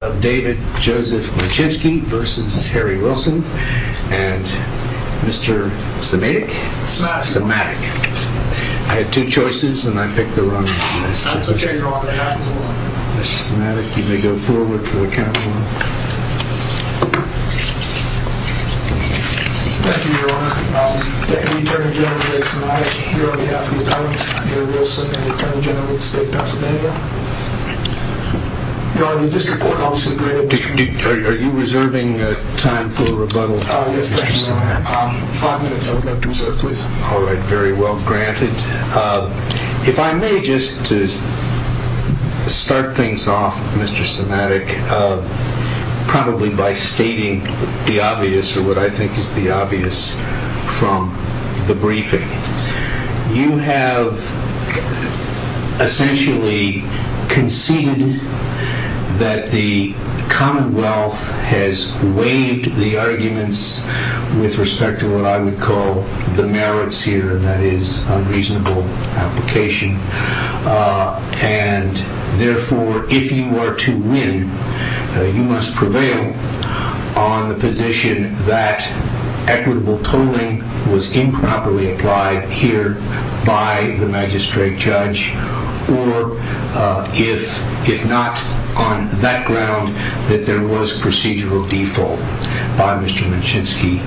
of David Joseph Wincheski v. Harry Wilson and Mr. Somatic. I had two choices and I picked the wrong one. That's okay, Your Honor. That happens a lot. Mr. Somatic, you may go forward for the count of one. Thank you, Your Honor. Attorney General Wilson, I here on behalf of the appellants, Harry Wilson and the Attorney General of the State of Pasadena, Your Honor, the district court officer, go ahead. Are you reserving time for rebuttal? Yes, Your Honor. Five minutes, I would like to reserve, please. All right, very well granted. If I may just start things off, Mr. Somatic, probably by stating the obvious or what I think is the obvious from the briefing. You have essentially conceded that the Commonwealth has waived the arguments with respect to what I would call the merits here, and that is unreasonable application. And therefore, if you are to win, you must prevail on the position that equitable tolling was improperly applied here by the magistrate judge or if not on that ground, that there was procedural default by Mr. Winchinski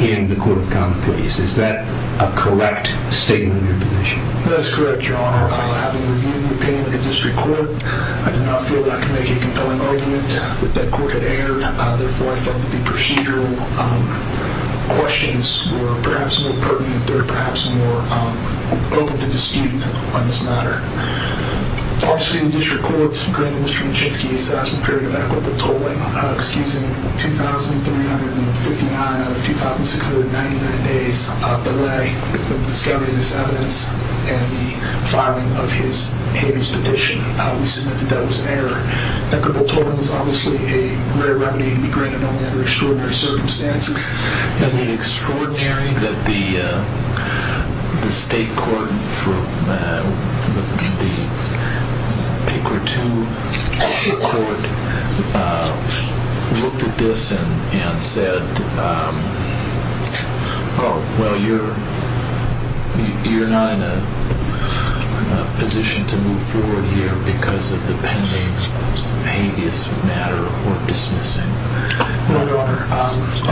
in the court of common pleas. Is that a correct statement of your position? That is correct, Your Honor. Having reviewed the opinion of the district court, I do not feel that I can make a compelling argument that that court had erred. Therefore, I felt that the procedural questions were perhaps more pertinent. They were perhaps more open to dispute on this matter. Obviously, the district court granted Mr. Winchinski's assassin period of equitable tolling, excusing 2,359 out of 2,699 days of delay with the discovery of this evidence and the filing of his habeas petition. We submit that that was an error. Equitable tolling is obviously a rare remedy to be granted only under extraordinary circumstances. Is it extraordinary that the state court, the paper 2 court, looked at this and said, oh, well, you're not in a position to move forward here because of the pending habeas matter or dismissing? No, Your Honor.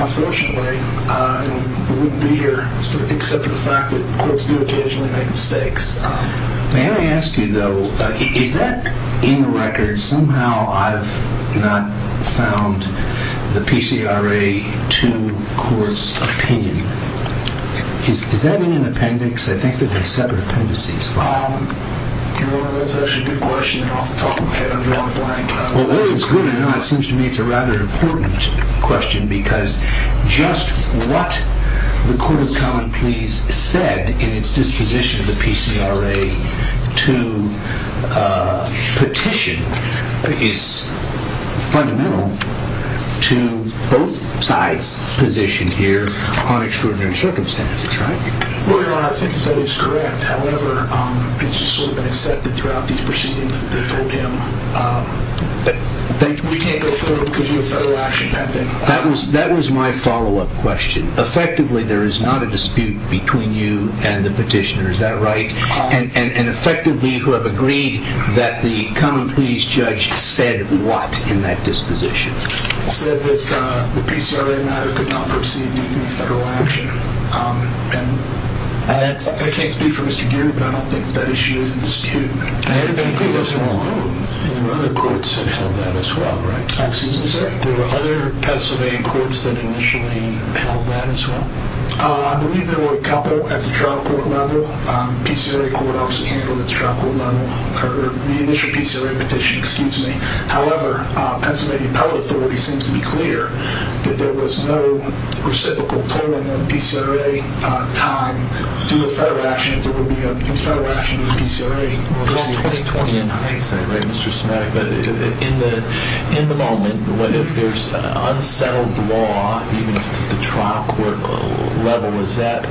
Unfortunately, we wouldn't be here except for the fact that courts do occasionally make mistakes. May I ask you, though, is that in the record? Somehow, I've not found the PCRA 2 court's opinion. Is that in an appendix? I think that they're separate appendices. Your Honor, that's actually a good question. Off the top of my head, I'm drawing a blank. Well, whether it's good or not, it seems to me it's a rather important question because just what the Court of Common Pleas said in its disposition of the PCRA 2 petition is fundamental to both sides' position here on extraordinary circumstances, right? Well, Your Honor, I think that that is correct. However, it's just sort of been accepted throughout these proceedings that they told him that we can't go forward because of a federal action pending. That was my follow-up question. Effectively, there is not a dispute between you and the petitioner, is that right? And effectively, you have agreed that the Common Pleas judge said what in that disposition? He said that the PCRA matter could not proceed due to federal action. I can't speak for Mr. Geer, but I don't think that issue is in dispute. It could as well. And there were other courts that held that as well, right? Excuse me, sir? There were other Pennsylvania courts that initially held that as well? I believe there were a couple at the trial court level. The PCRA court also handled its trial court level, or the initial PCRA petition, excuse me. However, Pennsylvania Appellate Authority seems to be clear that there was no reciprocal tolling of PCRA time due to federal actions. There would be a federal action in the PCRA proceeding. Well, 2020 in hindsight, right, Mr. Smagg? But in the moment, if there's an unsettled law, even if it's at the trial court level, is it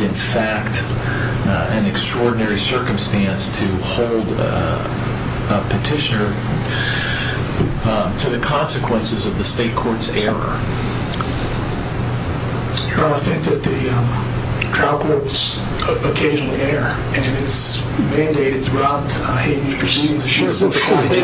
in fact an extraordinary circumstance to hold a petitioner to the consequences of the state court's error? You're going to think that the trial court's occasional error, and it's mandated throughout the proceedings. They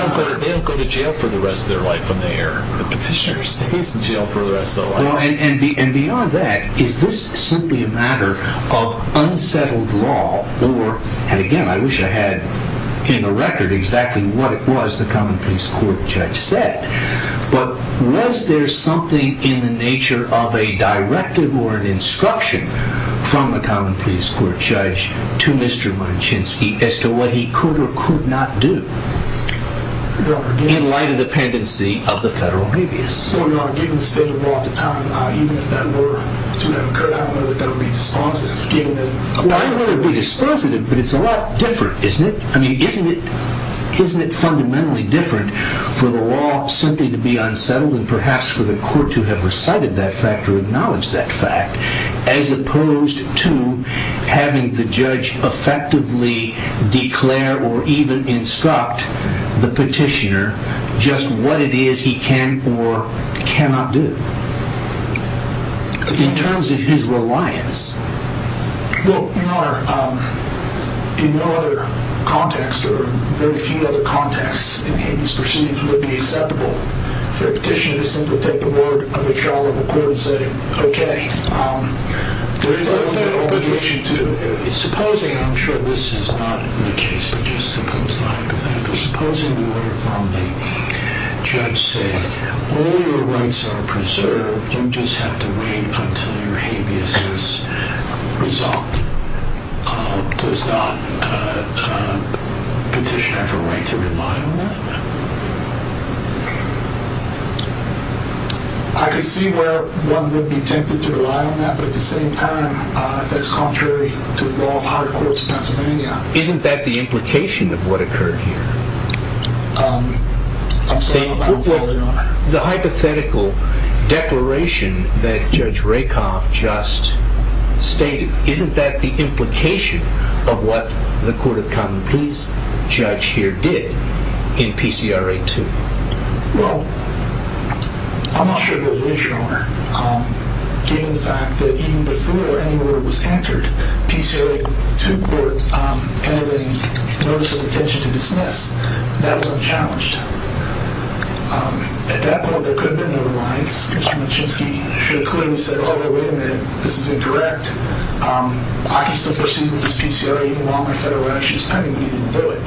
don't go to jail for the rest of their life on the error. The petitioner stays in jail for the rest of their life. And beyond that, is this simply a matter of unsettled law, or, and again, I wish I had in the record exactly what it was the common peace court judge said, but was there something in the nature of a directive or an instruction from the common peace court judge to Mr. Manchinsky as to what he could or could not do in light of the pendency of the federal habeas? Well, Your Honor, given the state of the law at the time, even if that were to have occurred, I don't know that that would be dispositive. I don't know if it would be dispositive, but it's a lot different, isn't it? I mean, isn't it fundamentally different for the law simply to be unsettled, and perhaps for the court to have recited that fact or acknowledged that fact, as opposed to having the judge effectively declare or even instruct the petitioner just what it is he can or cannot do in terms of his reliance? Well, Your Honor, in no other context or very few other contexts in habeas per se would it be acceptable for a petitioner to simply take the word of a trial of a court and say, okay, there is an obligation to... Supposing, and I'm sure this is not the case, but just to pose the hypothetical, supposing the order from the judge says, all your rights are preserved, you just have to wait until your habeas is resolved. Does not a petitioner have a right to rely on that? I can see where one would be tempted to rely on that, but at the same time, that's contrary to the law of higher courts in Pennsylvania. Isn't that the implication of what occurred here? I'm sorry, Your Honor. The hypothetical declaration that Judge Rakoff just stated, isn't that the implication of what the Court of Common Peace judge here did in PCRA 2? Well, I'm not sure that it is, Your Honor, given the fact that even before any word was entered, PCRA 2 court entered a notice of intention to dismiss. That was unchallenged. At that point, there could have been no reliance. Mr. Machinsky should have clearly said, oh, wait a minute, this is incorrect. I can still proceed with this PCRA even while my federal relationship is pending. He didn't do it.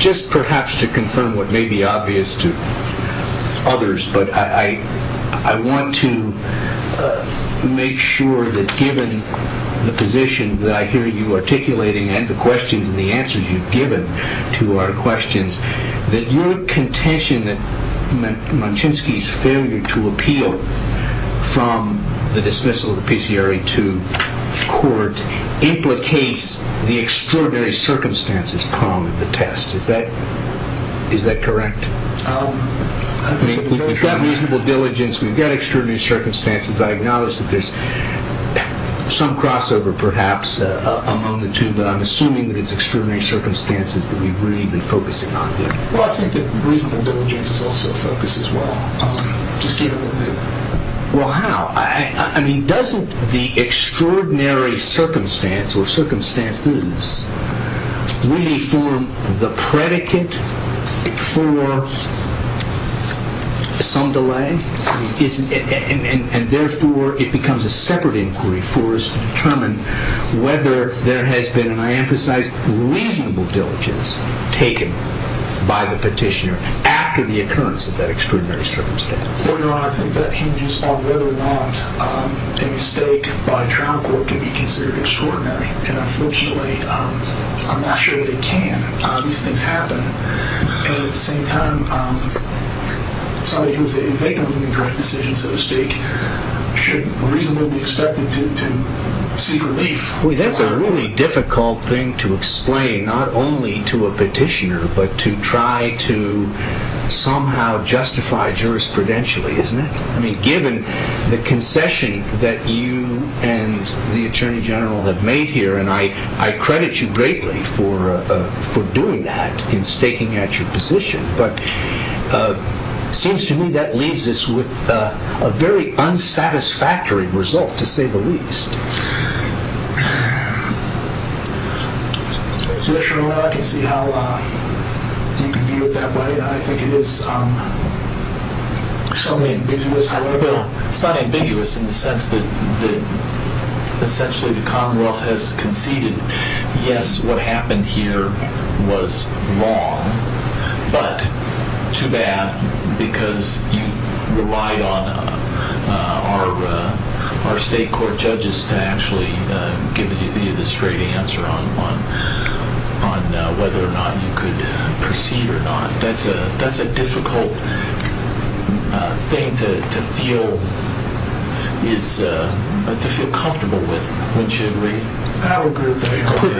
Just perhaps to confirm what may be obvious to others, but I want to make sure that given the position that I hear you articulating and the questions and the answers you've given to our questions, that your contention that Machinsky's failure to appeal from the dismissal of the PCRA 2 court implicates the extraordinary circumstances pronged of the test. Is that correct? We've got reasonable diligence. We've got extraordinary circumstances. I acknowledge that there's some crossover perhaps among the two, but I'm assuming that it's extraordinary circumstances that we've really been focusing on here. Well, I think that reasonable diligence is also a focus as well. Well, how? I mean, doesn't the extraordinary circumstance or circumstances really form the predicate for some delay? And therefore, it becomes a separate inquiry for us to determine whether there has been, and I emphasize, reasonable diligence taken by the petitioner after the occurrence of that extraordinary circumstance. Well, Your Honor, I think that hinges on whether or not a mistake by trial court can be considered extraordinary. And unfortunately, I'm not sure that it can. These things happen. And at the same time, somebody who's a victim of an incorrect decision, so to speak, should reasonably be expected to seek relief. Boy, that's a really difficult thing to explain, not only to a petitioner, but to try to somehow justify jurisprudentially, isn't it? I mean, given the concession that you and the Attorney General have made here, and I credit you greatly for doing that in staking out your position, but it seems to me that leaves us with a very unsatisfactory result, to say the least. Your Honor, I can see how you can view it that way. I think it is somewhat ambiguous. It's not ambiguous in the sense that essentially the Commonwealth has conceded, yes, what happened here was wrong, but too bad because you relied on our state court judges to actually give you the straight answer on whether or not you could proceed or not. That's a difficult thing to feel comfortable with, wouldn't you agree?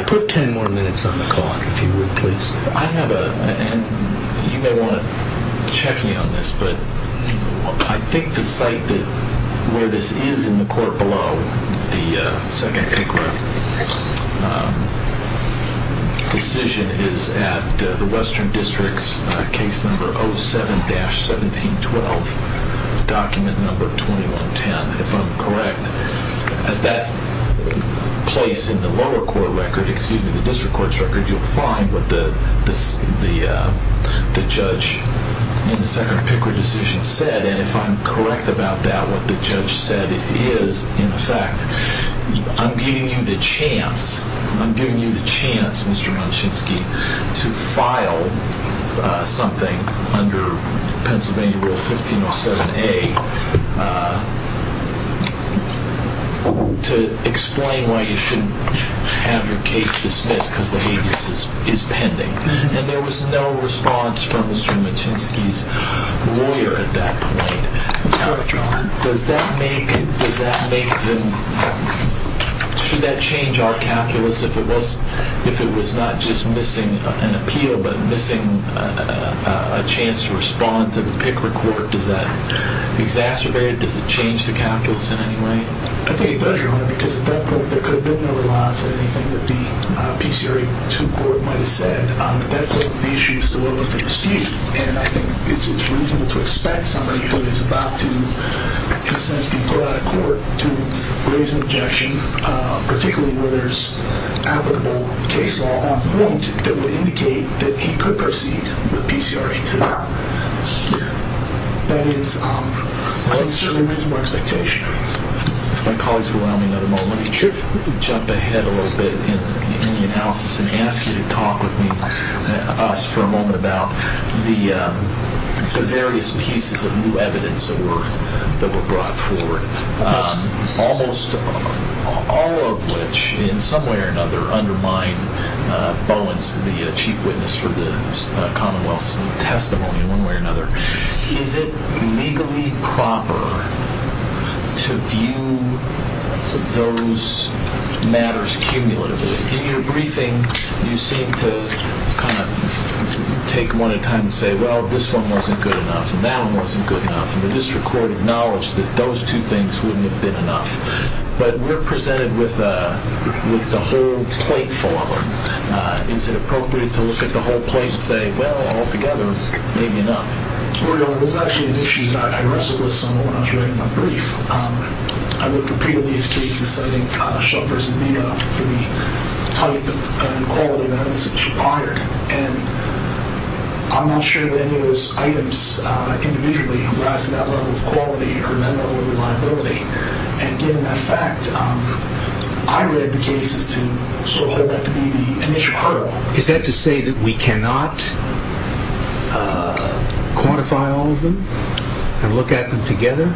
Put 10 more minutes on the clock, if you would, please. I have a, and you may want to check me on this, but I think the site where this is in the court below, the second incorrect decision is at the Western District's case number 07-1712, document number 2110, if I'm correct. At that place in the lower court record, excuse me, the district court's record, you'll find what the judge in the second Pickard decision said, and if I'm correct about that, what the judge said is, in effect, I'm giving you the chance, I'm giving you the chance, Mr. Munshinsky, to file something under Pennsylvania Rule 1507A to explain why you shouldn't have your case dismissed because the habeas is pending. And there was no response from Mr. Munshinsky's lawyer at that point. Does that make them, should that change our calculus if it was not just missing an appeal but missing a chance to respond to the Pickard court? Does that exacerbate it? Does it change the calculus in any way? I think it does, Your Honor, because at that point there could have been no response to anything that the PCRA 2 court might have said. At that point, the issue is still open for dispute, and I think it's reasonable to expect somebody who is about to, in a sense, go out of court to raise an objection, particularly where there's applicable case law on point that would indicate that he could proceed with PCRA 2 here. That is, I think, certainly reasonable expectation. My colleagues around me, let me jump ahead a little bit in the analysis and ask you to talk with me, us, for a moment about the various pieces of new evidence that were brought forward, almost all of which, in some way or another, undermine Bowen's, the chief witness for the Commonwealth's testimony in one way or another. Is it legally proper to view those matters cumulatively? In your briefing, you seem to kind of take one at a time and say, well, this one wasn't good enough, and that one wasn't good enough, and the district court acknowledged that those two things wouldn't have been enough. But we're presented with the whole plate full of them. Is it appropriate to look at the whole plate and say, well, all together, maybe enough? Well, Your Honor, there's actually an issue that I wrestled with somewhat when I was writing my brief. I looked repeatedly at the cases, I think Shelfers and Meadow, for the type and quality of evidence that was required, and I'm not sure that any of those items individually have lasted that level of quality or that level of reliability. And given that fact, I read the cases to sort of hold that to be the initial hurdle. Is that to say that we cannot quantify all of them and look at them together?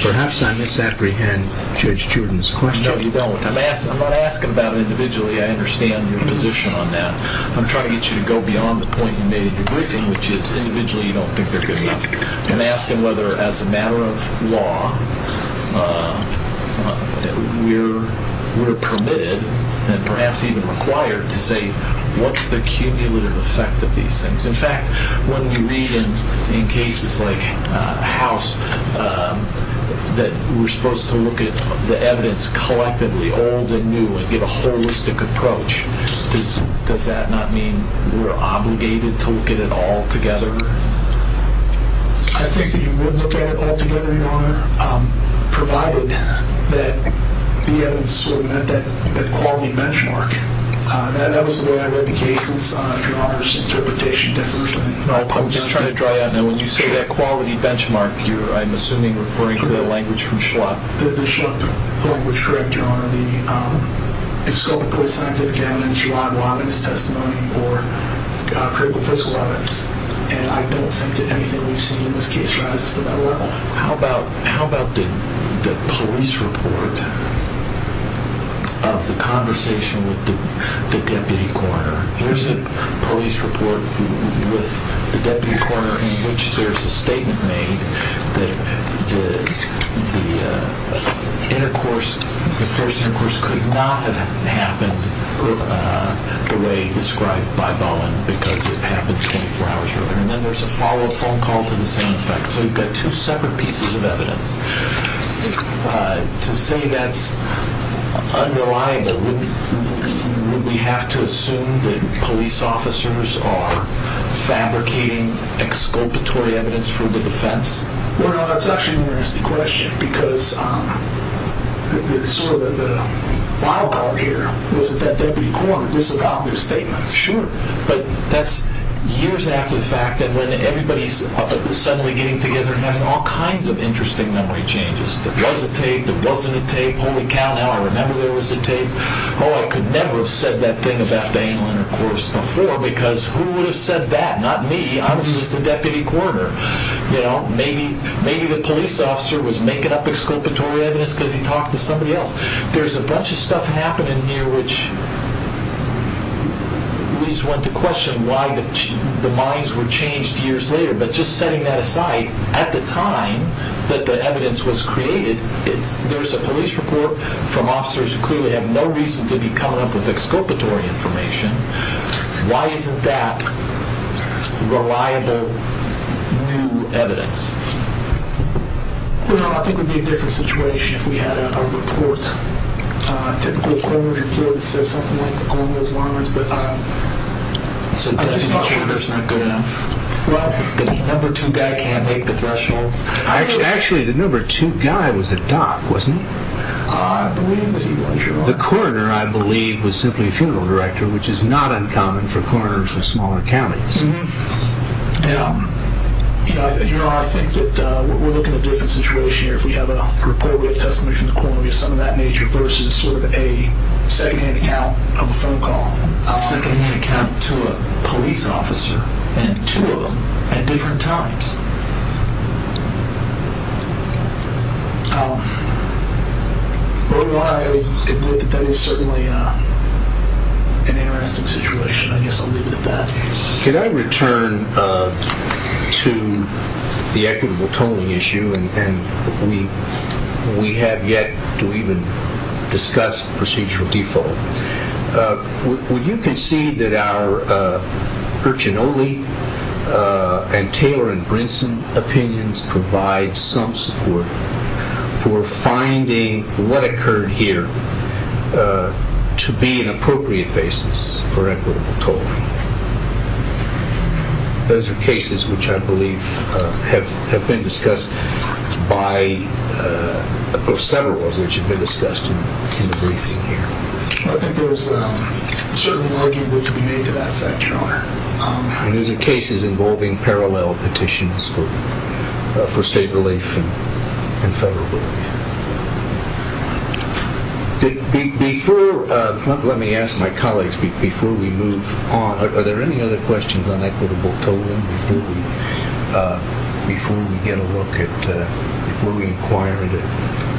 Perhaps I misapprehend Judge Juden's question. No, you don't. I'm not asking about individually. I understand your position on that. I'm trying to get you to go beyond the point you made in your briefing, which is individually you don't think they're good enough. I'm asking whether, as a matter of law, we're permitted and perhaps even required to say what's the cumulative effect of these things. In fact, when you read in cases like House that we're supposed to look at the evidence collectively, old and new, and get a holistic approach, does that not mean we're obligated to look at it all together? I think that you would look at it all together, Your Honor, provided that the evidence sort of met that quality benchmark. That was the way I read the cases, if Your Honor's interpretation differs. I'm just trying to dry out now. When you say that quality benchmark, I'm assuming you're referring to the language from Schlup. The Schlup language, correct Your Honor, is scopically scientific evidence, you're not allowing it as testimony or critical fiscal evidence. And I don't think that anything we've seen in this case rises to that level. How about the police report of the conversation with the deputy coroner? Here's a police report with the deputy coroner in which there's a statement made that the intercourse, the first intercourse could not have happened the way described by Bowen because it happened 24 hours earlier. And then there's a follow-up phone call to the same effect. So you've got two separate pieces of evidence. To say that's unreliable, would we have to assume that police officers are fabricating exculpatory evidence for the defense? Well, that's actually an interesting question because sort of the wild card here was that that deputy coroner disavowed their statements. Sure. But that's years after the fact and when everybody's suddenly getting together and having all kinds of interesting memory changes. There was a tape, there wasn't a tape, holy cow, now I remember there was a tape. Oh, I could never have said that thing about the anal intercourse before because who would have said that? Not me, I was just a deputy coroner. Maybe the police officer was making up exculpatory evidence because he talked to somebody else. There's a bunch of stuff happening here which leads one to question why the minds were changed years later. But just setting that aside, at the time that the evidence was created, there's a police report from officers who clearly have no reason to be coming up with exculpatory information. Well, I think it would be a different situation if we had a report, typically a coroner's report that says something along those lines. I'm just not sure that's not good enough. Well, the number two guy can't make the threshold. Actually, the number two guy was a doc, wasn't he? I believe that he was. The coroner, I believe, was simply a funeral director, which is not uncommon for coroners in smaller counties. You know, I think that we're looking at a different situation here. If we have a report, we have testimony from the coroner, we have something of that nature versus sort of a second-hand account of a phone call, a second-hand account to a police officer, and two of them at different times. Or do I admit that that is certainly an interesting situation? I guess I'll leave it at that. Can I return to the equitable tolling issue? And we have yet to even discuss procedural default. Would you concede that our Urchinoli and Taylor and Brinson opinions provide some support for finding what occurred here to be an appropriate basis for equitable tolling? Those are cases which I believe have been discussed by, or several of which have been discussed in the briefing here. I think there's a certain argument to be made to that effect, Your Honor. And those are cases involving parallel petitions for state relief and federal relief. Before, let me ask my colleagues, before we move on, are there any other questions on equitable tolling before we get a look at, before we inquire into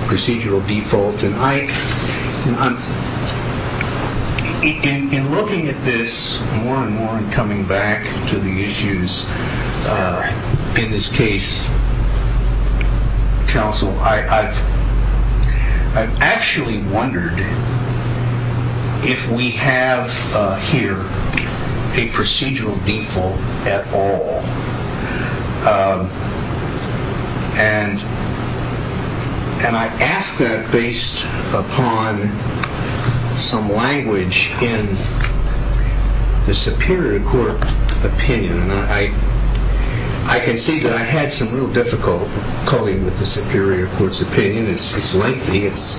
procedural default? And I, in looking at this more and more and coming back to the issues in this case, counsel, I've actually wondered if we have here a procedural default at all. And I ask that based upon some language in the Superior Court opinion. And I can see that I had some real difficult calling with the Superior Court's opinion. It's lengthy. It's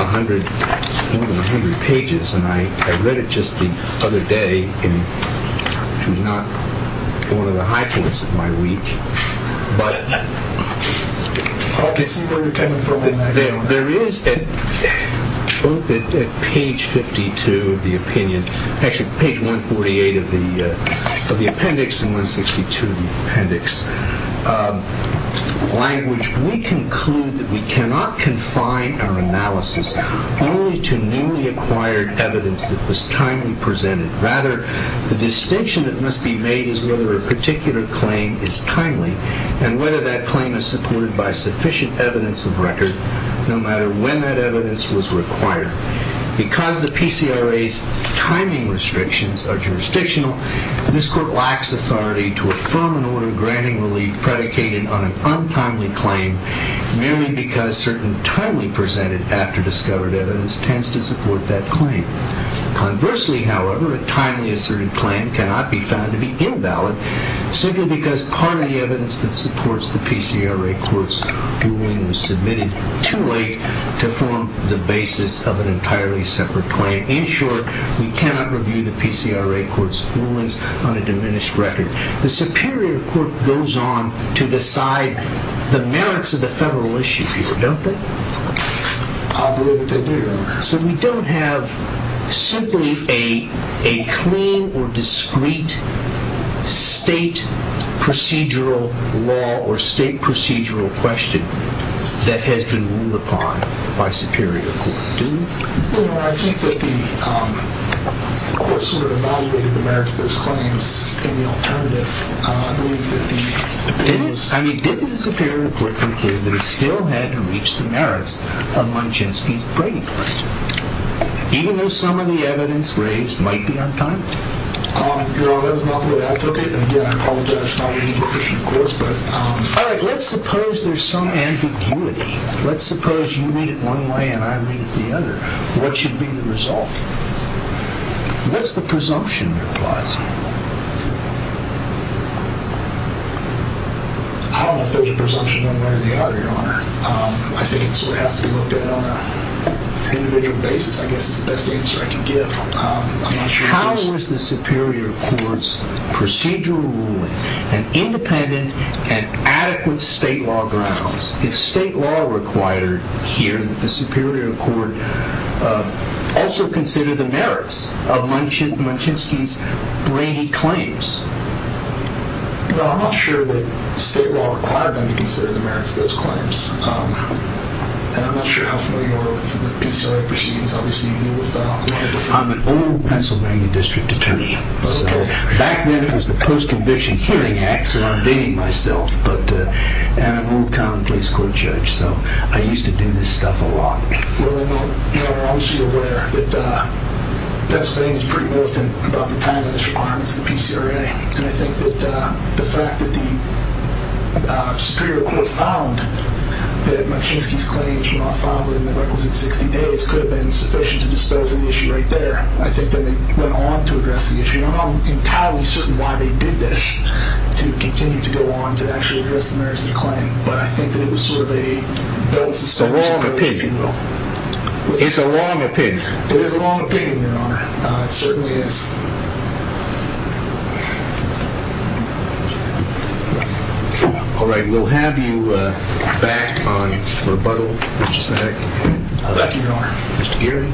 a hundred, more than a hundred pages. And I read it just the other day, which was not one of the high points of my week. But there is, both at page 52 of the opinion, actually page 148 of the appendix and 162 of the appendix, language, we conclude that we cannot confine our analysis only to newly acquired evidence that was timely presented. Rather, the distinction that must be made is whether a particular claim is timely and whether that claim is supported by sufficient evidence of record, no matter when that evidence was required. Because the PCRA's timing restrictions are jurisdictional, this Court lacks authority to affirm an order granting relief predicated on an untimely claim, merely because certain timely presented after-discovered evidence tends to support that claim. Conversely, however, a timely asserted claim cannot be found to be invalid simply because part of the evidence that supports the PCRA Court's ruling was submitted too late to form the basis of an entirely separate claim. In short, we cannot review the PCRA Court's rulings on a diminished record. The Superior Court goes on to decide the merits of the federal issue here, don't they? So we don't have simply a clean or discrete state procedural law or state procedural question. That has been ruled upon by Superior Court, do we? Well, I think that the Court sort of evaluated the merits of those claims in the alternative. I believe that the Superior Court concluded that it still had to reach the merits of Munchensky's Brady claim, even though some of the evidence raised might be untimely. Your Honor, that is not the way I took it. And again, I apologize for not being efficient, of course. All right, let's suppose there's some ambiguity. Let's suppose you read it one way and I read it the other. What should be the result? What's the presumption, replies he? I don't know if there's a presumption one way or the other, Your Honor. I think it sort of has to be looked at on an individual basis, I guess is the best answer I can give. How is the Superior Court's procedural ruling an independent and adequate state law grounds if state law required here that the Superior Court also consider the merits of Munchensky's Brady claims? Well, I'm not sure that state law required them to consider the merits of those claims. And I'm not sure how familiar you are with PCIA proceedings. I'm an old Pennsylvania District Attorney. Back then, it was the Post-Conviction Hearing Act, so I'm dating myself. And I'm an old Common Pleas Court judge, so I used to do this stuff a lot. Well, Your Honor, I'm sure you're aware that Pennsylvania is pretty militant about the timing of these requirements, the PCRA. And I think that the fact that the Superior Court found that Munchensky's claims were not filed within the requisite 60 days could have been sufficient to dispose of the issue right there. I think that they went on to address the issue. And I'm not entirely certain why they did this to continue to go on to actually address the merits of the claim. But I think that it was sort of a balance of service. It's a long opinion. It's a long opinion. It is a long opinion, Your Honor. It certainly is. All right, we'll have you back on rebuttal. Thank you, Your Honor. Mr. Geary?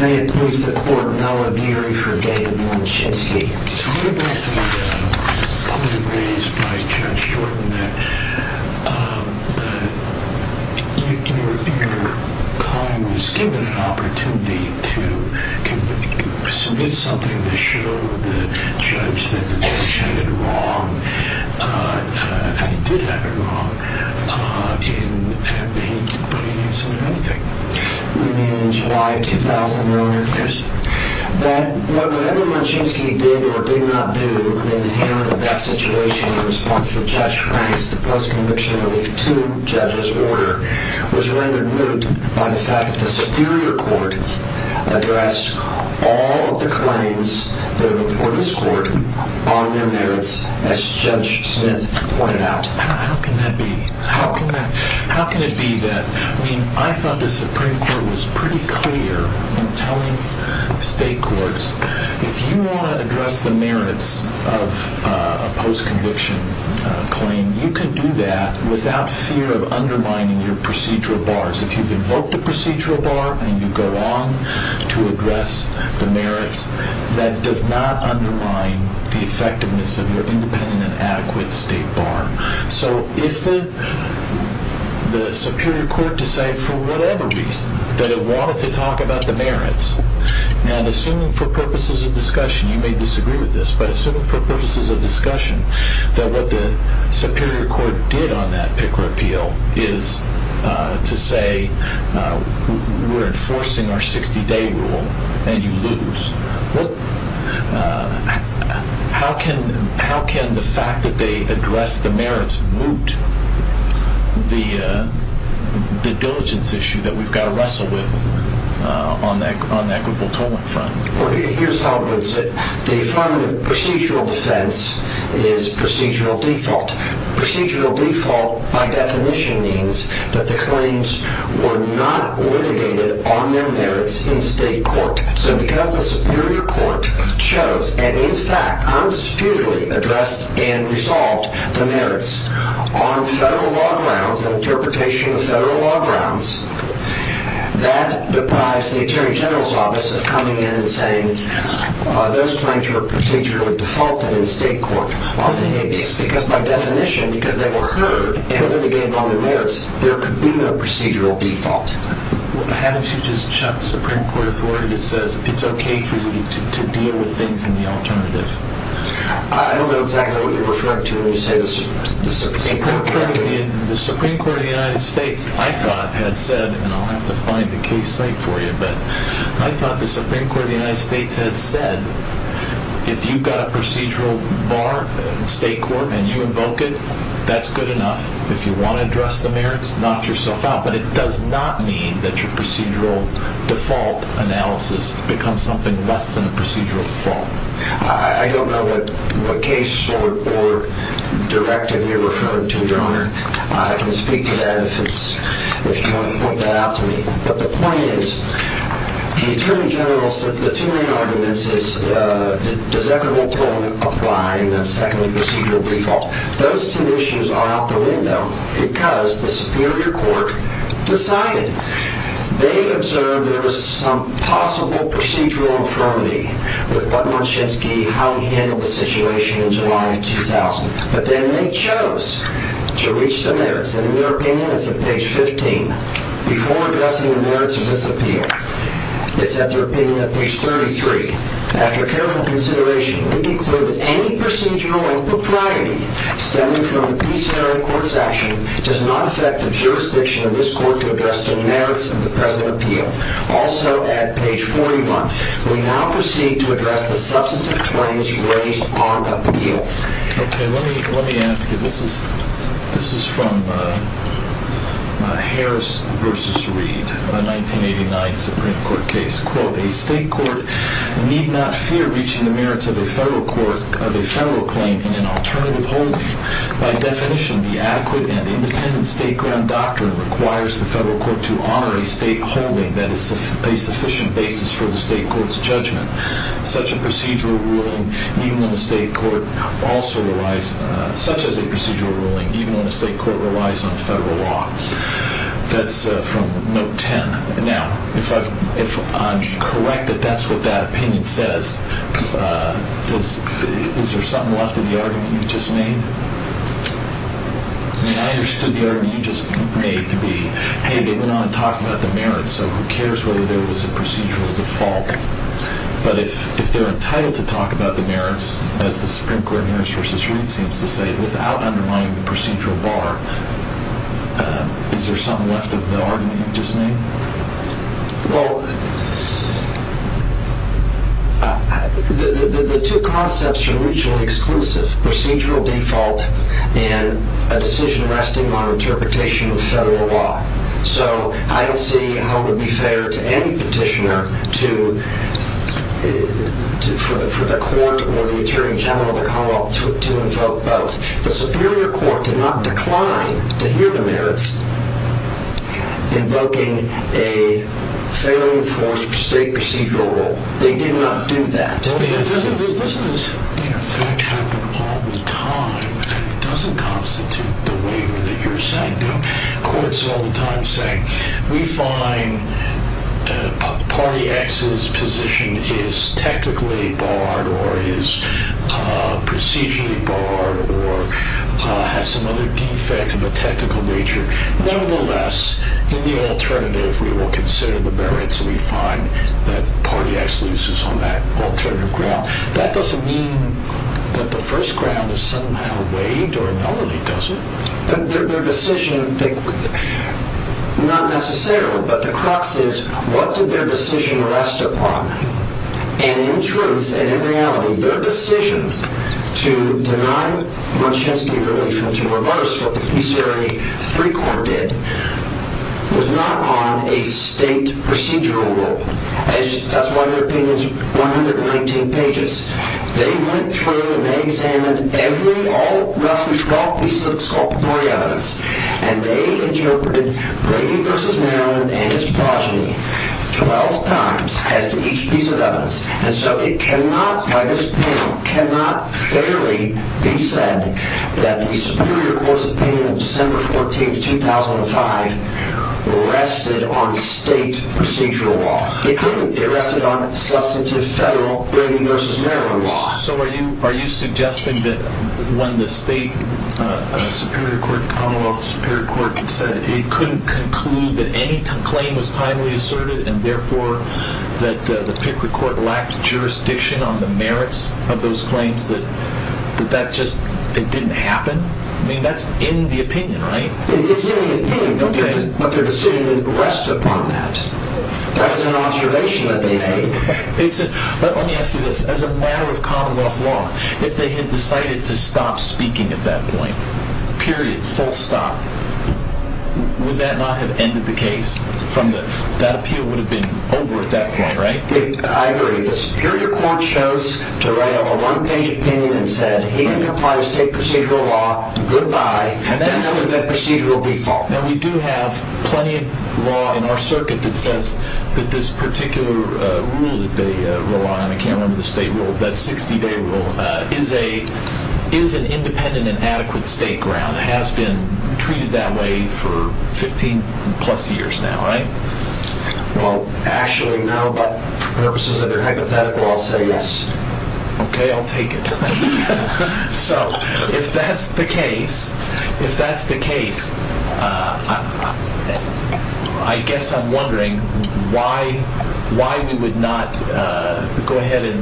May it please the Court, no obituary for David Munchensky. So what about the point raised by Judge Shorten that your client was given an opportunity to submit something to show the judge that the judge had it wrong, and he did have it wrong, in having to put an incident on the case? You mean in July of 2000, Your Honor? Yes. That whatever Munchensky did or did not do in the handling of that situation in response to Judge Frank's post-conviction relief to judge's order was rendered moot by the fact that the Superior Court addressed all of the claims that were before this Court on their merits, as Judge Smith pointed out. How can that be? How can that be? How can it be that? I mean, I thought the Supreme Court was pretty clear in telling state courts, if you want to address the merits of a post-conviction claim, you can do that without fear of undermining your procedural bars. If you've invoked a procedural bar and you go on to address the merits, that does not undermine the effectiveness of your independent and adequate state bar. So if the Superior Court decided for whatever reason that it wanted to talk about the merits, and assuming for purposes of discussion, you may disagree with this, but assuming for purposes of discussion that what the Superior Court did on that Picker appeal is to say we're enforcing our 60-day rule and you lose, how can the fact that they addressed the merits moot the diligence issue that we've got to wrestle with on that groupal tolling front? Here's how it works. The affirmative procedural defense is procedural default. Procedural default, by definition, means that the claims were not litigated on their merits in state court. So because the Superior Court chose and, in fact, undisputedly addressed and resolved the merits on federal law grounds, an interpretation of federal law grounds, that deprives the Attorney General's Office of coming in and saying those claims were procedurally defaulted in state court. It's because, by definition, because they were heard and litigated on their merits, there could be no procedural default. Why don't you just chuck Supreme Court authority that says it's okay for you to deal with things in the alternative? I don't know exactly what you're referring to when you say the Supreme Court. The Supreme Court of the United States, I thought, had said, and I'll have to find the case site for you, but I thought the Supreme Court of the United States has said if you've got a procedural bar in state court and you invoke it, that's good enough. If you want to address the merits, knock yourself out. But it does not mean that your procedural default analysis becomes something less than a procedural default. I don't know what case or directive you're referring to, Your Honor. I can speak to that if you want to point that out to me. But the point is, the Attorney General's, the two main arguments is, does equitable employment apply? And then secondly, procedural default. Those two issues are out the window because the Superior Court decided. They observed there was some possible procedural infirmity with what Moshinsky, how he handled the situation in July of 2000. But then they chose to reach the merits, and in their opinion, it's at page 15. Before addressing the merits of this appeal, it's at their opinion at page 33. After careful consideration, we conclude that any procedural impropriety stemming from the presenter in court's action does not affect the jurisdiction of this court to address the merits of the present appeal. Also at page 41, we now proceed to address the substantive claims you raised on the appeal. Okay, let me ask you. This is from Harris v. Reed, a 1989 Supreme Court case. Quote, a state court need not fear reaching the merits of a federal claim in an alternative holding. By definition, the adequate and independent state ground doctrine requires the federal court to honor a state holding that is a sufficient basis for the state court's judgment. Such as a procedural ruling, even when the state court relies on federal law. That's from note 10. Now, if I'm correct that that's what that opinion says, is there something left of the argument you just made? I mean, I understood the argument you just made to be, hey, they went on and talked about the merits, so who cares whether there was a procedural default. But if they're entitled to talk about the merits, as the Supreme Court in Harris v. Reed seems to say, without undermining the procedural bar, is there something left of the argument you just made? Well, the two concepts are mutually exclusive. Procedural default and a decision resting on interpretation of federal law. So I don't see how it would be fair to any petitioner for the court or the attorney general of the Commonwealth to invoke both. The Superior Court did not decline to hear the merits invoking a federally enforced state procedural rule. They did not do that. It doesn't in effect happen all the time, and it doesn't constitute the waiver that you're saying. Courts all the time say, we find party X's position is technically barred or is procedurally barred or has some other defect of a technical nature. Nevertheless, in the alternative, we will consider the merits, and we find that party X loses on that alternative ground. That doesn't mean that the first ground is somehow waived, or it normally doesn't. Their decision, not necessarily, but the crux is, what did their decision rest upon? And in truth and in reality, their decision to deny Muncheski relief and to reverse what the Peace Area 3 Court did was not on a state procedural rule. That's why their opinion is 119 pages. They went through and they examined every, all, roughly 12 pieces of exculpatory evidence, and they interpreted Brady v. Maryland and his progeny 12 times as to each piece of evidence. And so it cannot, by this panel, cannot fairly be said that the Superior Court's opinion of December 14, 2005 rested on state procedural law. It didn't. It rested on substantive federal Brady v. Maryland law. So are you suggesting that when the state Superior Court, the Commonwealth Superior Court, had said it couldn't conclude that any claim was timely asserted, and therefore that the Pickford Court lacked jurisdiction on the merits of those claims, that that just didn't happen? I mean, that's in the opinion, right? It's in the opinion, but their decision didn't rest upon that. That was an observation that they made. Let me ask you this. As a matter of Commonwealth law, if they had decided to stop speaking at that point, period, full stop, would that not have ended the case? That appeal would have been over at that point, right? I agree. The Superior Court chose to write a one-page opinion and said, he complies with state procedural law, goodbye, and that's the procedural default. Now, we do have plenty of law in our circuit that says that this particular rule that they rely on, I can't remember the state rule, that 60-day rule, is an independent and adequate state ground, has been treated that way for 15-plus years now, right? Well, actually, for purposes that are hypothetical, I'll say yes. Okay, I'll take it. So, if that's the case, if that's the case, I guess I'm wondering why we would not go ahead and,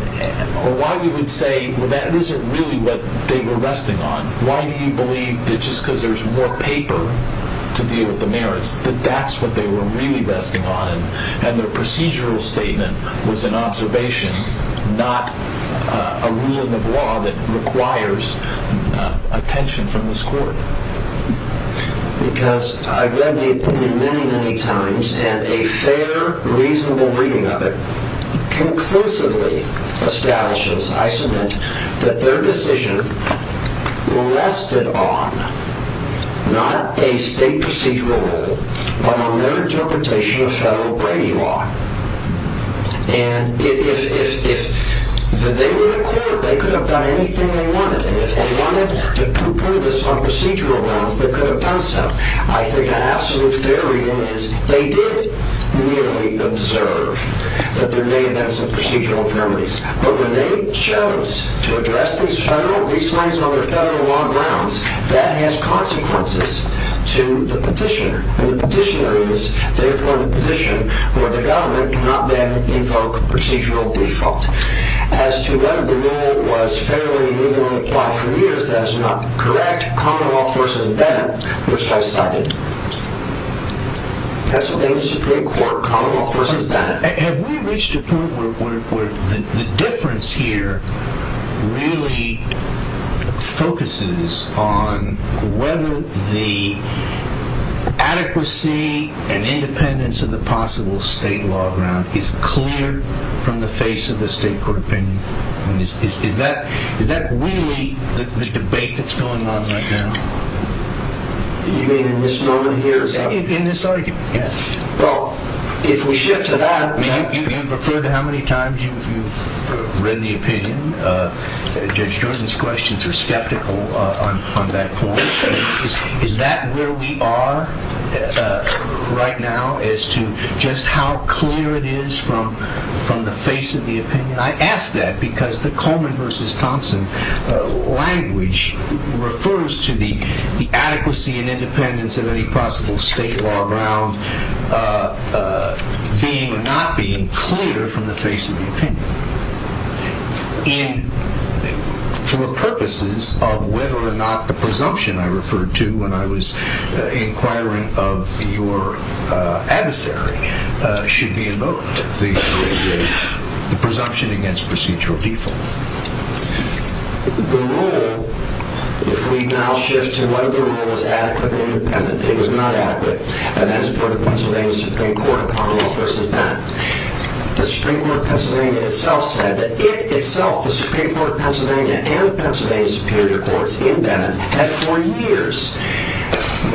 or why we would say, well, that isn't really what they were resting on. Why do you believe that just because there's more paper to deal with the merits, that that's what they were really resting on, and their procedural statement was an observation, not a ruling of law that requires attention from this Court? Because I've read the opinion many, many times, and a fair, reasonable reading of it conclusively establishes, I submit, that their decision rested on not a state procedural rule, but on their interpretation of federal Brady law. And if they were in a court, they could have done anything they wanted, and if they wanted to prove this on procedural grounds, they could have done so. I think an absolute fair reading is they did merely observe that there may have been some procedural infirmities. But when they chose to address these federal, these claims on their federal law grounds, that has consequences to the petitioner. And the petitioner is the appointed petitioner, where the government cannot then invoke procedural default. As to whether the rule was fairly reasonably applied for years, that is not correct. Common law forces it back, which I cited. Pennsylvania Supreme Court, common law forces it back. Have we reached a point where the difference here really focuses on whether the adequacy and independence of the possible state law ground is clear from the face of the state court opinion? Is that really the debate that's going on right now? You mean in this moment here? In this argument, yes. Well, if we shift to that, you've referred to how many times you've read the opinion. Judge Jordan's questions are skeptical on that point. Is that where we are right now as to just how clear it is from the face of the opinion? I ask that because the Coleman versus Thompson language refers to the adequacy and independence of any possible state law ground being or not being clear from the face of the opinion. And for purposes of whether or not the presumption I referred to when I was inquiring of your adversary should be invoked, the presumption against procedural default. The rule, if we now shift to whether the rule is adequately independent. It was not adequate. And that's for the Pennsylvania Supreme Court, common law forces it back. The Supreme Court of Pennsylvania itself said that it itself, the Supreme Court of Pennsylvania and Pennsylvania Superior Courts in Bennett, had for years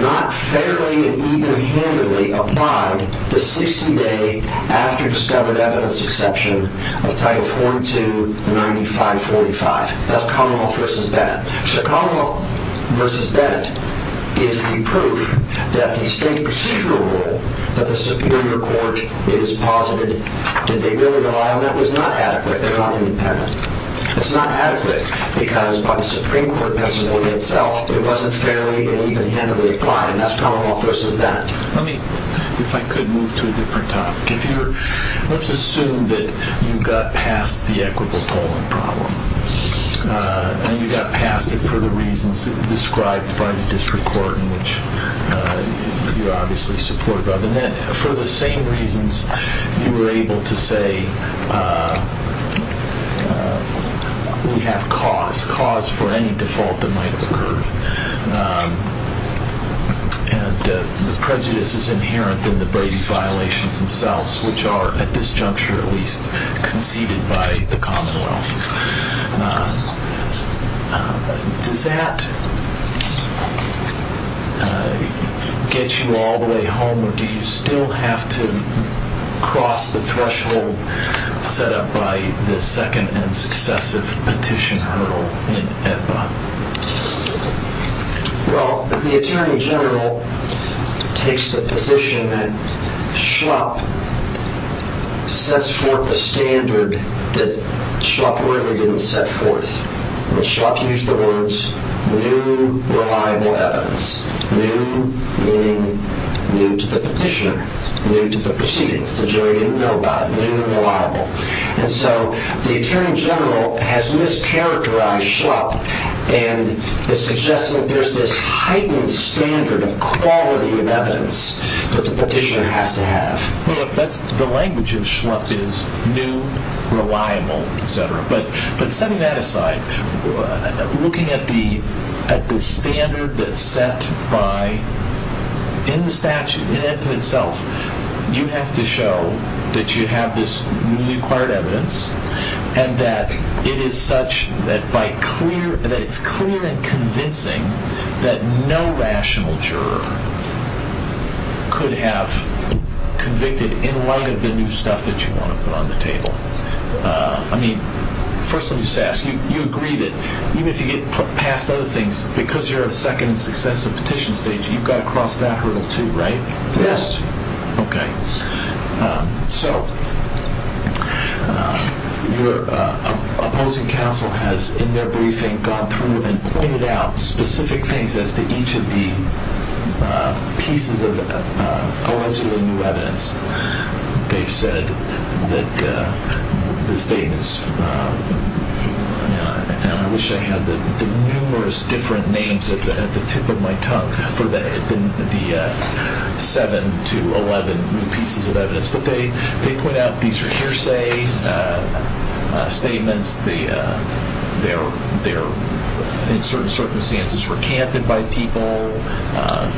not fairly and even-handedly applied the 60-day after-discovered-evidence exception of Title 42-9545. That's Commonwealth versus Bennett. So Commonwealth versus Bennett is the proof that the state procedural rule that the Superior Court has posited did they really rely on that was not adequate. They're not independent. It's not adequate because by the Supreme Court of Pennsylvania itself, it wasn't fairly and even-handedly applied, and that's Commonwealth versus Bennett. Let me, if I could, move to a different topic. Let's assume that you got past the equitable polling problem, and you got past it for the reasons described by the district court, which you obviously supported. And then for the same reasons, you were able to say we have cause, cause for any default that might have occurred. And the prejudice is inherent in the Brady violations themselves, which are, at this juncture at least, conceded by the Commonwealth. Does that get you all the way home, or do you still have to cross the threshold set up by the second and successive petition hurdle in AEDBA? Well, the Attorney General takes the position that Schlupp sets forth a standard that Schlupp really didn't set forth. Schlupp used the words new reliable evidence. New meaning new to the petitioner, new to the proceedings. The jury didn't know about it. New and reliable. And so the Attorney General has mischaracterized Schlupp and is suggesting that there's this heightened standard of quality of evidence that the petitioner has to have. Well, look, the language of Schlupp is new, reliable, etc. But setting that aside, looking at the standard that's set by, in the statute, in AEDBA itself, you have to show that you have this newly acquired evidence and that it is such that it's clear and convincing that no rational juror could have convicted in light of the new stuff that you want to put on the table. I mean, first let me just ask, you agree that even if you get past other things, because you're at the second and successive petition stage, you've got to cross that hurdle too, right? Yes. Okay. So your opposing counsel has, in their briefing, gone through and pointed out specific things as to each of the pieces of allegedly new evidence. They've said that the state is, and I wish I had the numerous different names at the tip of my tongue for the 7 to 11 new pieces of evidence. But they point out these are hearsay statements, they're in certain circumstances recanted by people,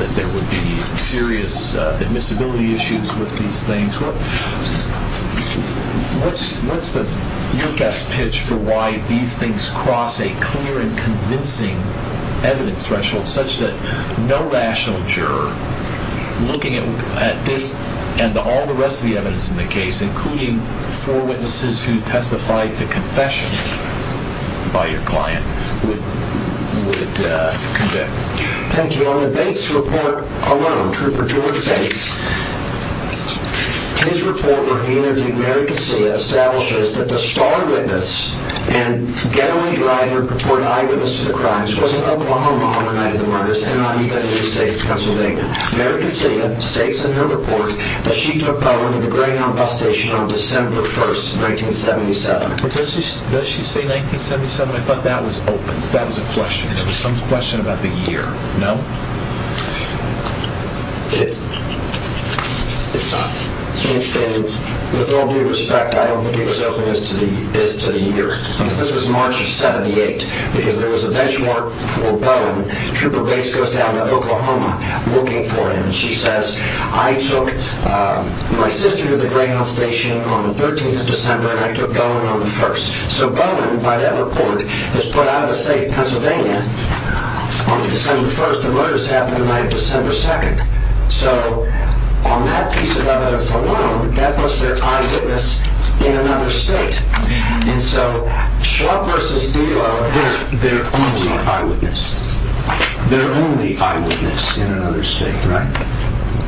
that there would be serious admissibility issues with these things. What's your best pitch for why these things cross a clear and convincing evidence threshold such that no rational juror, looking at this and all the rest of the evidence in the case, including four witnesses who testified to confession by your client, would convict? Thank you. On the Bates report alone, Trooper George Bates, his report where he interviewed Mary Casilla establishes that the star witness and getaway driver who reported eyewitness to the crimes wasn't alone on the night of the murders and not even in the state's counsel building. Mary Casilla states in her report that she took part in the Greyhound bus station on December 1st, 1977. But does she say 1977? I thought that was open. That was a question. There was some question about the year. No? It's not. With all due respect, I don't think it was open as to the year. This was March of 78 because there was a benchmark for Bowen. Trooper Bates goes down to Oklahoma looking for him. She says, I took my sister to the Greyhound station on the 13th of December and I took Bowen on the 1st. So Bowen, by that report, was put out of the state of Pennsylvania on December 1st. The murders happened on December 2nd. So, on that piece of evidence alone, that puts their eyewitness in another state. And so, Schlupp versus Dillow is their only eyewitness. Their only eyewitness in another state, right?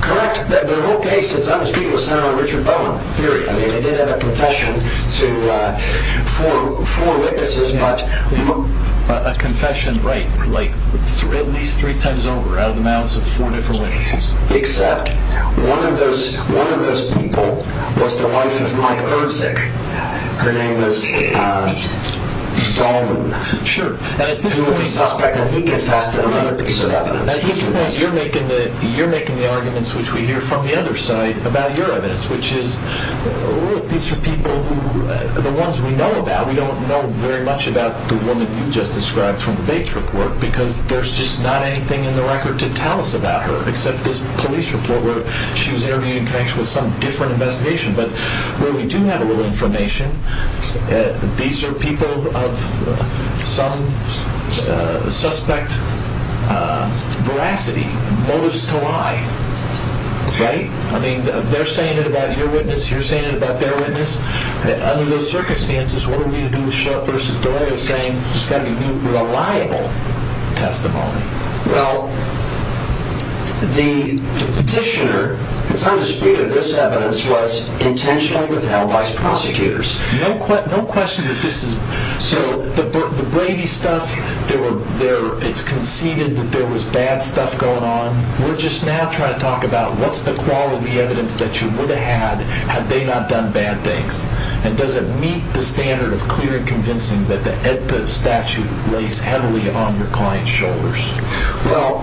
Correct. The whole case, since I was speaking with Senator Richard Bowen, period. They did have a confession to four witnesses. A confession, right. At least three times over, out of the mouths of four different witnesses. Except, one of those people was the wife of Mike Herzig. Her name was Dalman. Sure. Who was a suspect and he confessed in another piece of evidence. You're making the arguments which we hear from the other side about your evidence. Which is, look, these are people who, the ones we know about, we don't know very much about the woman you just described from the Bates report. Because there's just not anything in the record to tell us about her. Except this police report where she was interviewed in connection with some different investigation. But, where we do have a little information, these are people of some suspect veracity. Motives to lie, right? I mean, they're saying it about your witness, you're saying it about their witness. Under those circumstances, what are we going to do with Schlupp versus Dillow saying it's got to be reliable testimony? Well, the petitioner, it's not a dispute that this evidence was intentionally withheld by prosecutors. No question that this is, so the Brady stuff, it's conceded that there was bad stuff going on. We're just now trying to talk about what's the quality evidence that you would have had had they not done bad things. And does it meet the standard of clear and convincing that the AEDPA statute lays heavily on your client's shoulders? Well,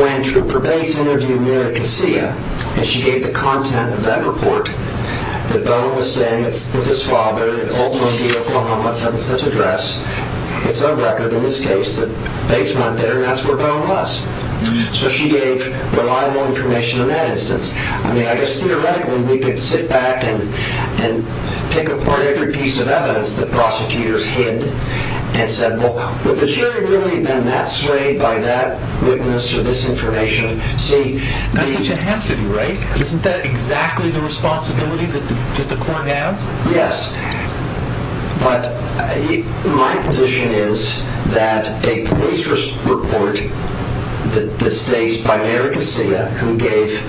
when Trooper Bates interviewed Mary Casilla, and she gave the content of that report, that Bone was staying with his father in Oakland, D.C., Oklahoma, at some such address, it's on record in this case that Bates went there and that's where Bone was. So she gave reliable information in that instance. I mean, I guess theoretically we could sit back and pick apart every piece of evidence that prosecutors hid and say, well, would the jury really have been that swayed by that witness or this information? See, that's what you have to do, right? Isn't that exactly the responsibility that the court has? Yes. But my position is that a police report that stays by Mary Casilla, who gave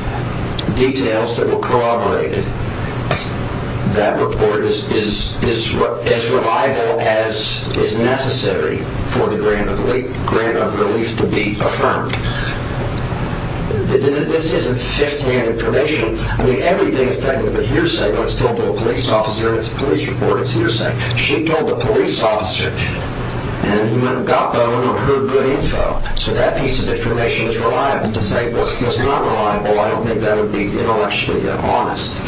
details that were corroborated, that report is as reliable as is necessary for the grant of relief to be affirmed. This isn't fifth-hand information. I mean, everything is technically hearsay, but it's told to a police officer, it's a police report, it's hearsay. She told a police officer, and you either got Bone or heard good info. So that piece of information is reliable. To say, well, it's not reliable, I don't think that would be intellectually honest.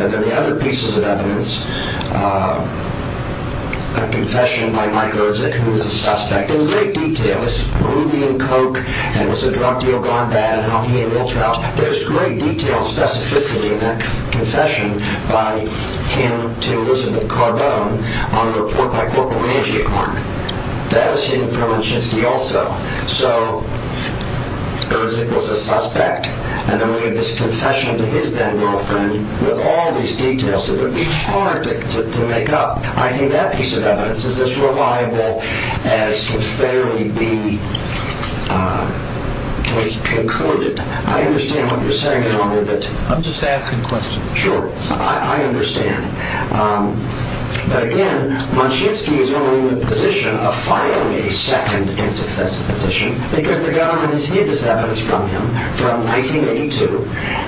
And then the other pieces of evidence, a confession by Mike Erzick, who was a suspect, in great detail, this Peruvian coke, and was a drug deal gone bad, and how he and Will Trout, there's great detail and specificity in that confession by him to Elizabeth Carbone on a report by Corporal Mangiacorn. That was hidden from Lynchinsky also. So, Erzick was a suspect, and then we have this confession to his then-girlfriend, with all these details that would be hard to make up. I think that piece of evidence is as reliable as can fairly be concluded. I understand what you're saying, Your Honor. I'm just asking questions. Sure. I understand. But again, Lynchinsky is only in the position of filing a second and successive petition, because the government has hid this evidence from him from 1982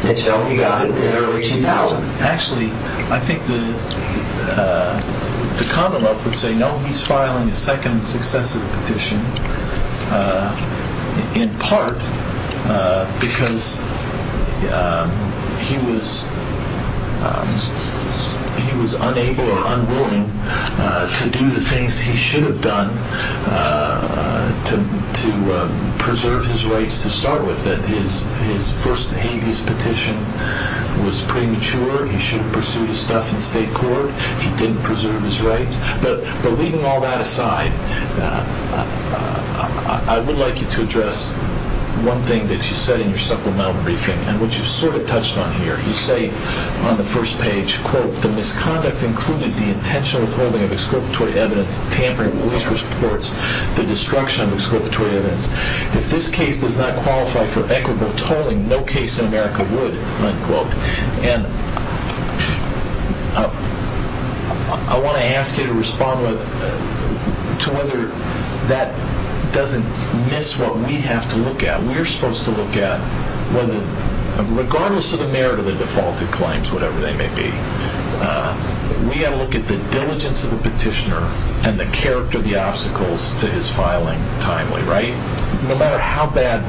until he got it in early 2000. Actually, I think the Commonwealth would say no, he's filing a second and successive petition, in part because he was unable or unwilling to do the things he should have done to preserve his rights to start with. I understand that his first habeas petition was premature. He should have pursued his stuff in state court. He didn't preserve his rights. But leaving all that aside, I would like you to address one thing that you said in your supplemental briefing, and which you sort of touched on here. You say on the first page, quote, the misconduct included the intentional withholding of exculpatory evidence, tampering with police reports, the destruction of exculpatory evidence. If this case does not qualify for equitable tolling, no case in America would, unquote. And I want to ask you to respond to whether that doesn't miss what we have to look at. We're supposed to look at whether, regardless of the merit of the defaulted claims, whatever they may be, we have to look at the diligence of the petitioner and the character of the obstacles to his filing timely, right? No matter how bad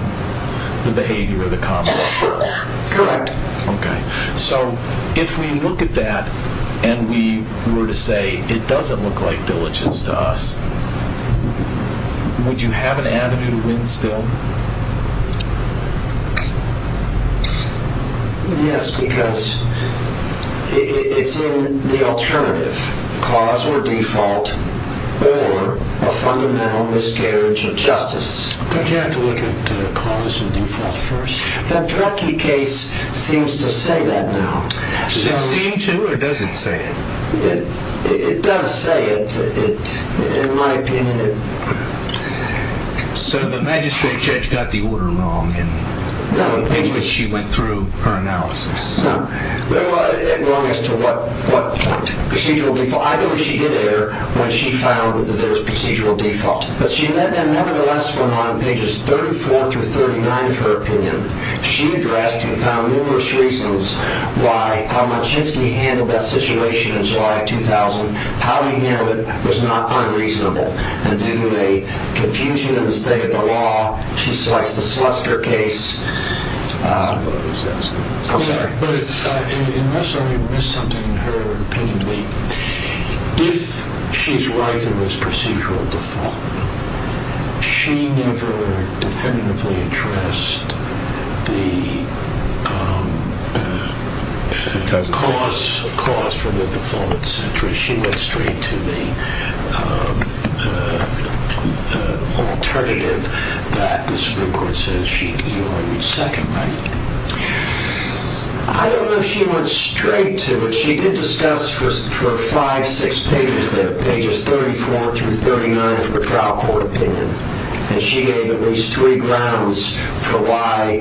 the behavior of the common law is. Correct. Okay. So if we look at that and we were to say it doesn't look like diligence to us, would you have an avenue to win still? Yes, because it's in the alternative, cause or default, or a fundamental miscarriage of justice. Don't you have to look at cause and default first? The Druckee case seems to say that now. Does it seem to or does it say it? It does say it, in my opinion. So the magistrate judge got the order wrong in which she went through her analysis. No, it was wrong as to what procedural default. I know she did err when she found that there was procedural default, but she nevertheless went on pages 34 through 39 of her opinion. She addressed and found numerous reasons why how Monshinsky handled that situation in July of 2000, how he handled it was unreasonable. And due to a confusion in the state of the law, she selects the Sluster case. That's not what I was asking. I'm sorry. But unless I missed something in her opinion to me, if she's right there was procedural default, she never definitively addressed the cause for the default, et cetera. She went straight to the alternative that the Supreme Court says she would second. I don't know if she went straight to it. She did discuss for five, six pages there, pages 34 through 39 of her trial court opinion. And she gave at least three grounds for why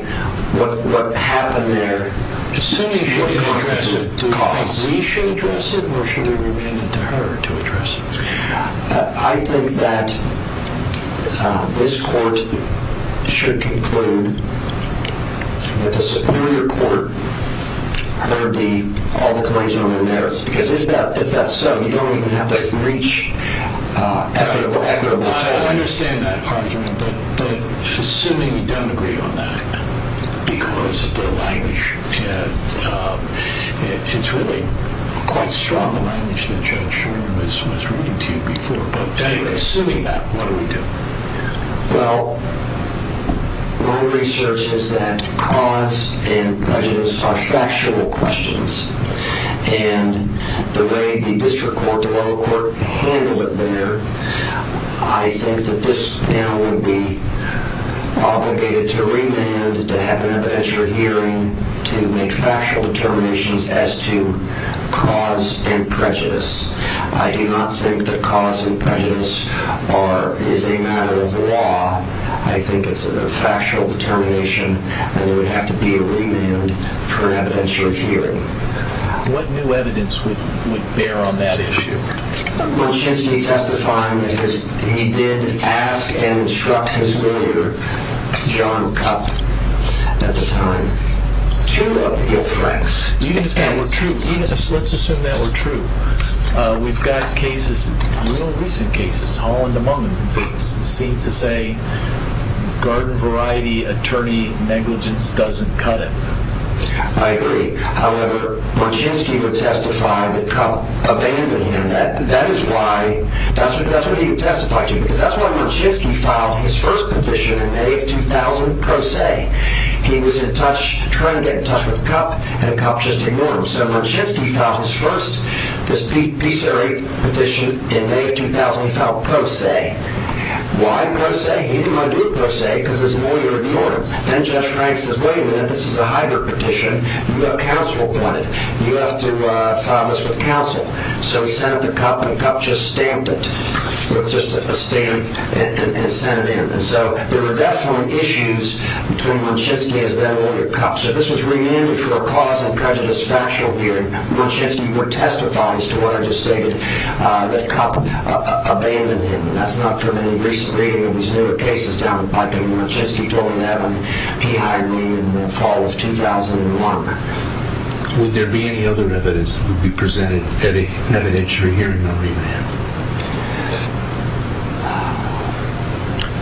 what happened there. Assuming she addressed it, do you think we should address it, or should we remain it to her to address it? I think that this court should conclude that the Superior Court heard all the claims on the merits. Because if that's so, you don't even have to reach equitable trial. I understand that argument. But assuming you don't agree on that because of the language, it's really quite strong the language that Judge Sherman was reading to you before. But anyway, assuming that, what do we do? Well, my research is that cause and prejudice are factual questions. And the way the district court, the lower court handled it there, I think that this now would be obligated to remand, to have an evidentiary hearing, to make factual determinations as to cause and prejudice. I do not think that cause and prejudice is a matter of law. I think it's a factual determination, and there would have to be a remand for an evidentiary hearing. What new evidence would bear on that issue? Machinsky testified that he did ask and instruct his lawyer, John Cupp, at the time. Two of your friends. Even if that were true, let's assume that were true. We've got cases, real recent cases, Holland among them, that seem to say garden variety attorney negligence doesn't cut it. I agree. However, Machinsky would testify that Cupp abandoned him. That is why, that's what he would testify to, because that's why Machinsky filed his first petition in May of 2000, pro se. He was in touch, trying to get in touch with Cupp, and Cupp just ignored him. So Machinsky filed his first petition in May of 2000, he filed pro se. Why pro se? He didn't want to do a pro se because his lawyer ignored him. Then Judge Frank says, wait a minute, this is a hybrid petition. You have counsel on it. You have to file this with counsel. So he sent it to Cupp, and Cupp just stamped it with just a stamp and sent it in. So there were definitely issues between Machinsky and his then lawyer, Cupp. So this was remanded for a cause of prejudice factual hearing. Machinsky would testify, as to what I just stated, that Cupp abandoned him. That's not from any recent reading of these newer cases down in Biking. Machinsky told me that when he hired me in the fall of 2001. Would there be any other evidence that would be presented, any evidence you're hearing on remand?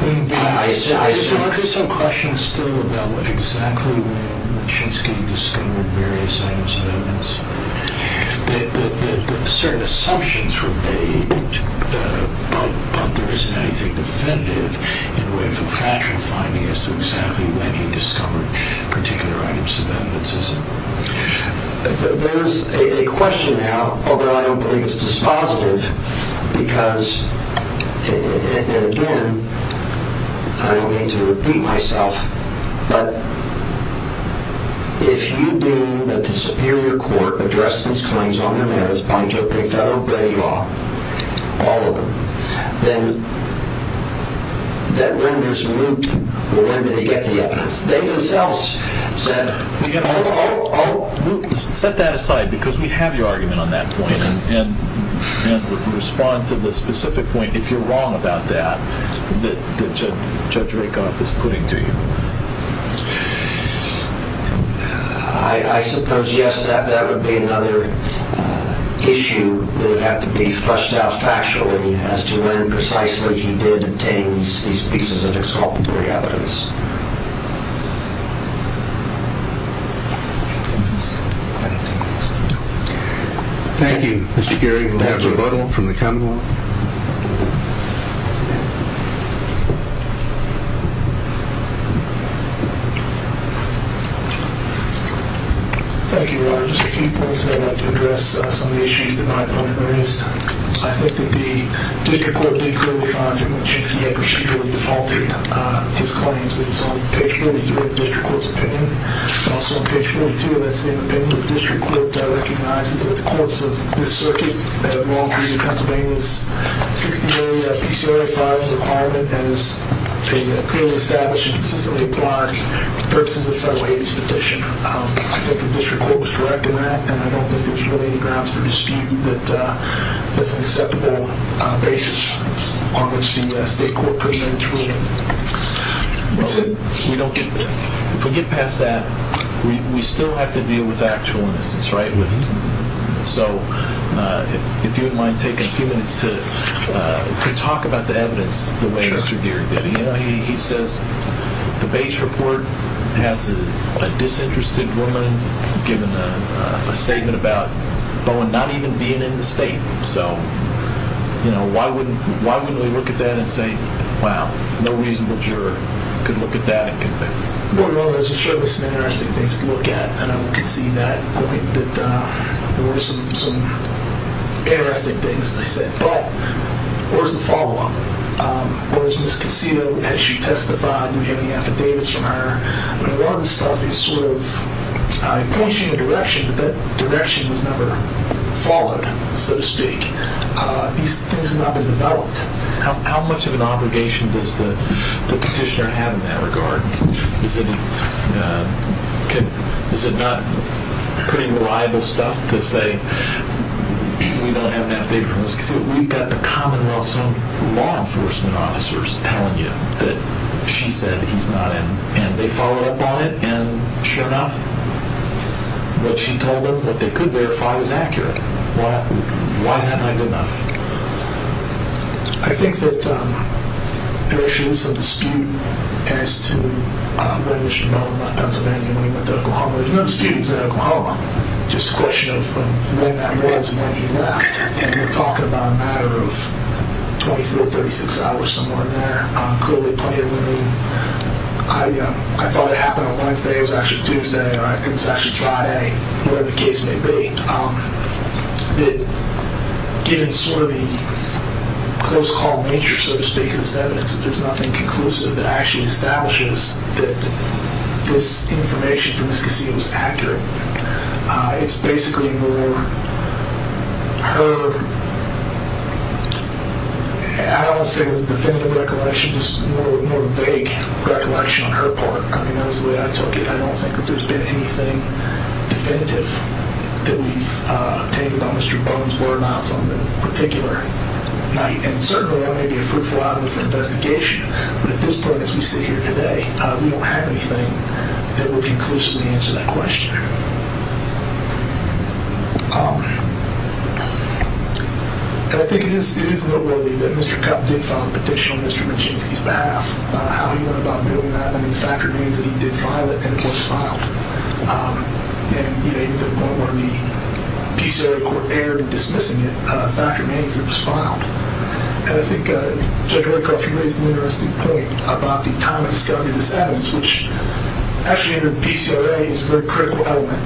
I still have some questions still about exactly when Machinsky discovered various items of evidence. Certain assumptions were made, but there isn't anything definitive in the way of a factual finding as to exactly when he discovered particular items of evidence, is it? There's a question now, although I don't believe it's dispositive, because, and again, I don't mean to repeat myself, but if you deem that the Superior Court addressed these claims on their merits by jokingly federal grade law, all of them, then that renders me, well, when did they get the evidence? They themselves said, oh, oh, oh. Set that aside, because we have your argument on that point, and respond to the specific point, if you're wrong about that, that Judge Rakoff is putting to you. I suppose, yes, that would be another issue that would have to be flushed out factually as to when precisely he did obtain these pieces of exculpatory evidence. Thank you, Mr. Geary. Do we have a rebuttal from the Commonwealth? Thank you, Your Honor. Just a few points that I'd like to address, some of the issues that my opponent raised. I think that the district court did clearly find from what she said he had procedurally defaulted his claims. It's on page 42 of the district court's opinion. Also on page 42 of that same opinion, the district court recognizes that the courts of this circuit have long viewed Pennsylvania's 60-day PCOA filing requirement as a clearly established and consistently applied purpose as a federal agency petition. I think the district court was correct in that, and I don't think there's really any grounds for dispute that that's an acceptable basis on which the state court could amend its ruling. If we get past that, we still have to deal with actual innocence, right? So if you wouldn't mind taking a few minutes to talk about the evidence the way Mr. Geary did. He says the base report has a disinterested woman giving a statement about Bowen not even being in the state. So why wouldn't we look at that and say, wow, no reasonable juror could look at that and convict Bowen? Well, there's certainly some interesting things to look at, and I could see that point, that there were some interesting things they said. But where's the follow-up? Whereas Ms. Casino, has she testified? Do we have any affidavits from her? A lot of this stuff is sort of pointing in a direction, but that direction was never followed, so to speak. These things have not been developed. How much of an obligation does the petitioner have in that regard? Is it not pretty reliable stuff to say, we don't have an affidavit from Ms. Casino? We've got the commonwealth's own law enforcement officers telling you that she said he's not in, and they followed up on it, and sure enough, what she told them, what they could verify was accurate. Why isn't that good enough? I think that there is some dispute as to whether Mr. Bowen left Pennsylvania when he went to Oklahoma. There's no dispute he was in Oklahoma, just a question of when that was and when he left. And you're talking about a matter of 24 to 36 hours, somewhere in there. Clearly, plenty of room. I thought it happened on Wednesday. It was actually Tuesday, or I think it was actually Friday, whatever the case may be. Given sort of the close call nature, so to speak, of this evidence, there's nothing conclusive that actually establishes that this information from Ms. Casino is accurate. It's basically more her, I don't want to say it was a definitive recollection, just more vague recollection on her part. I mean, that was the way I took it. I don't think that there's been anything definitive that we've obtained about Mr. Bowen's whereabouts on that particular night. And certainly, that may be a fruitful item for investigation, but at this point as we sit here today, we don't have anything that would conclusively answer that question. And I think it is noteworthy that Mr. Cupp did file a petition on Mr. Menchinsky's behalf. How he went about doing that, I mean, the fact remains that he did file it and it was filed. And even to the point where the Peace Area Court erred in dismissing it, the fact remains that it was filed. And I think Judge Roycoff raised an interesting point about the time of discovery of this evidence, which actually under the PCRA is a very critical element.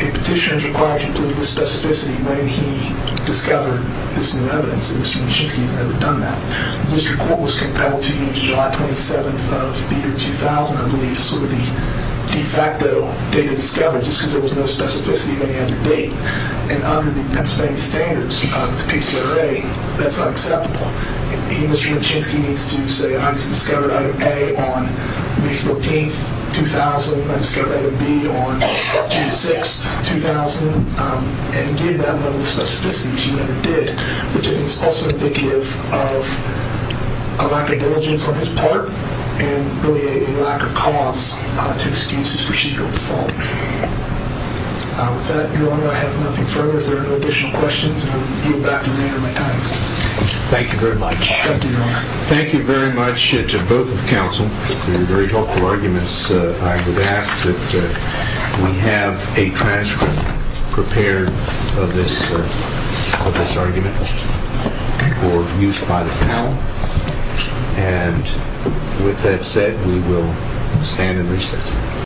A petition is required to include the specificity when he discovered this new evidence, and Mr. Menchinsky has never done that. The district court was compelled to use July 27th of the year 2000, I believe, as sort of the de facto date of discovery, just because there was no specificity of any other date. And under the Pennsylvania standards of the PCRA, that's not acceptable. Mr. Menchinsky needs to say, I just discovered item A on May 14th, 2000. I discovered item B on June 6th, 2000. And he gave that level of specificity, which he never did, which I think is also indicative of a lack of diligence on his part, and really a lack of cause to excuse his procedural default. With that, Your Honor, I have nothing further. If there are no additional questions, I will yield back the remainder of my time. Thank you very much. Thank you, Your Honor. Thank you very much to both of the counsel for your very helpful arguments. I would ask that we have a transcript prepared of this argument for use by the panel. And with that said, we will stand and recess.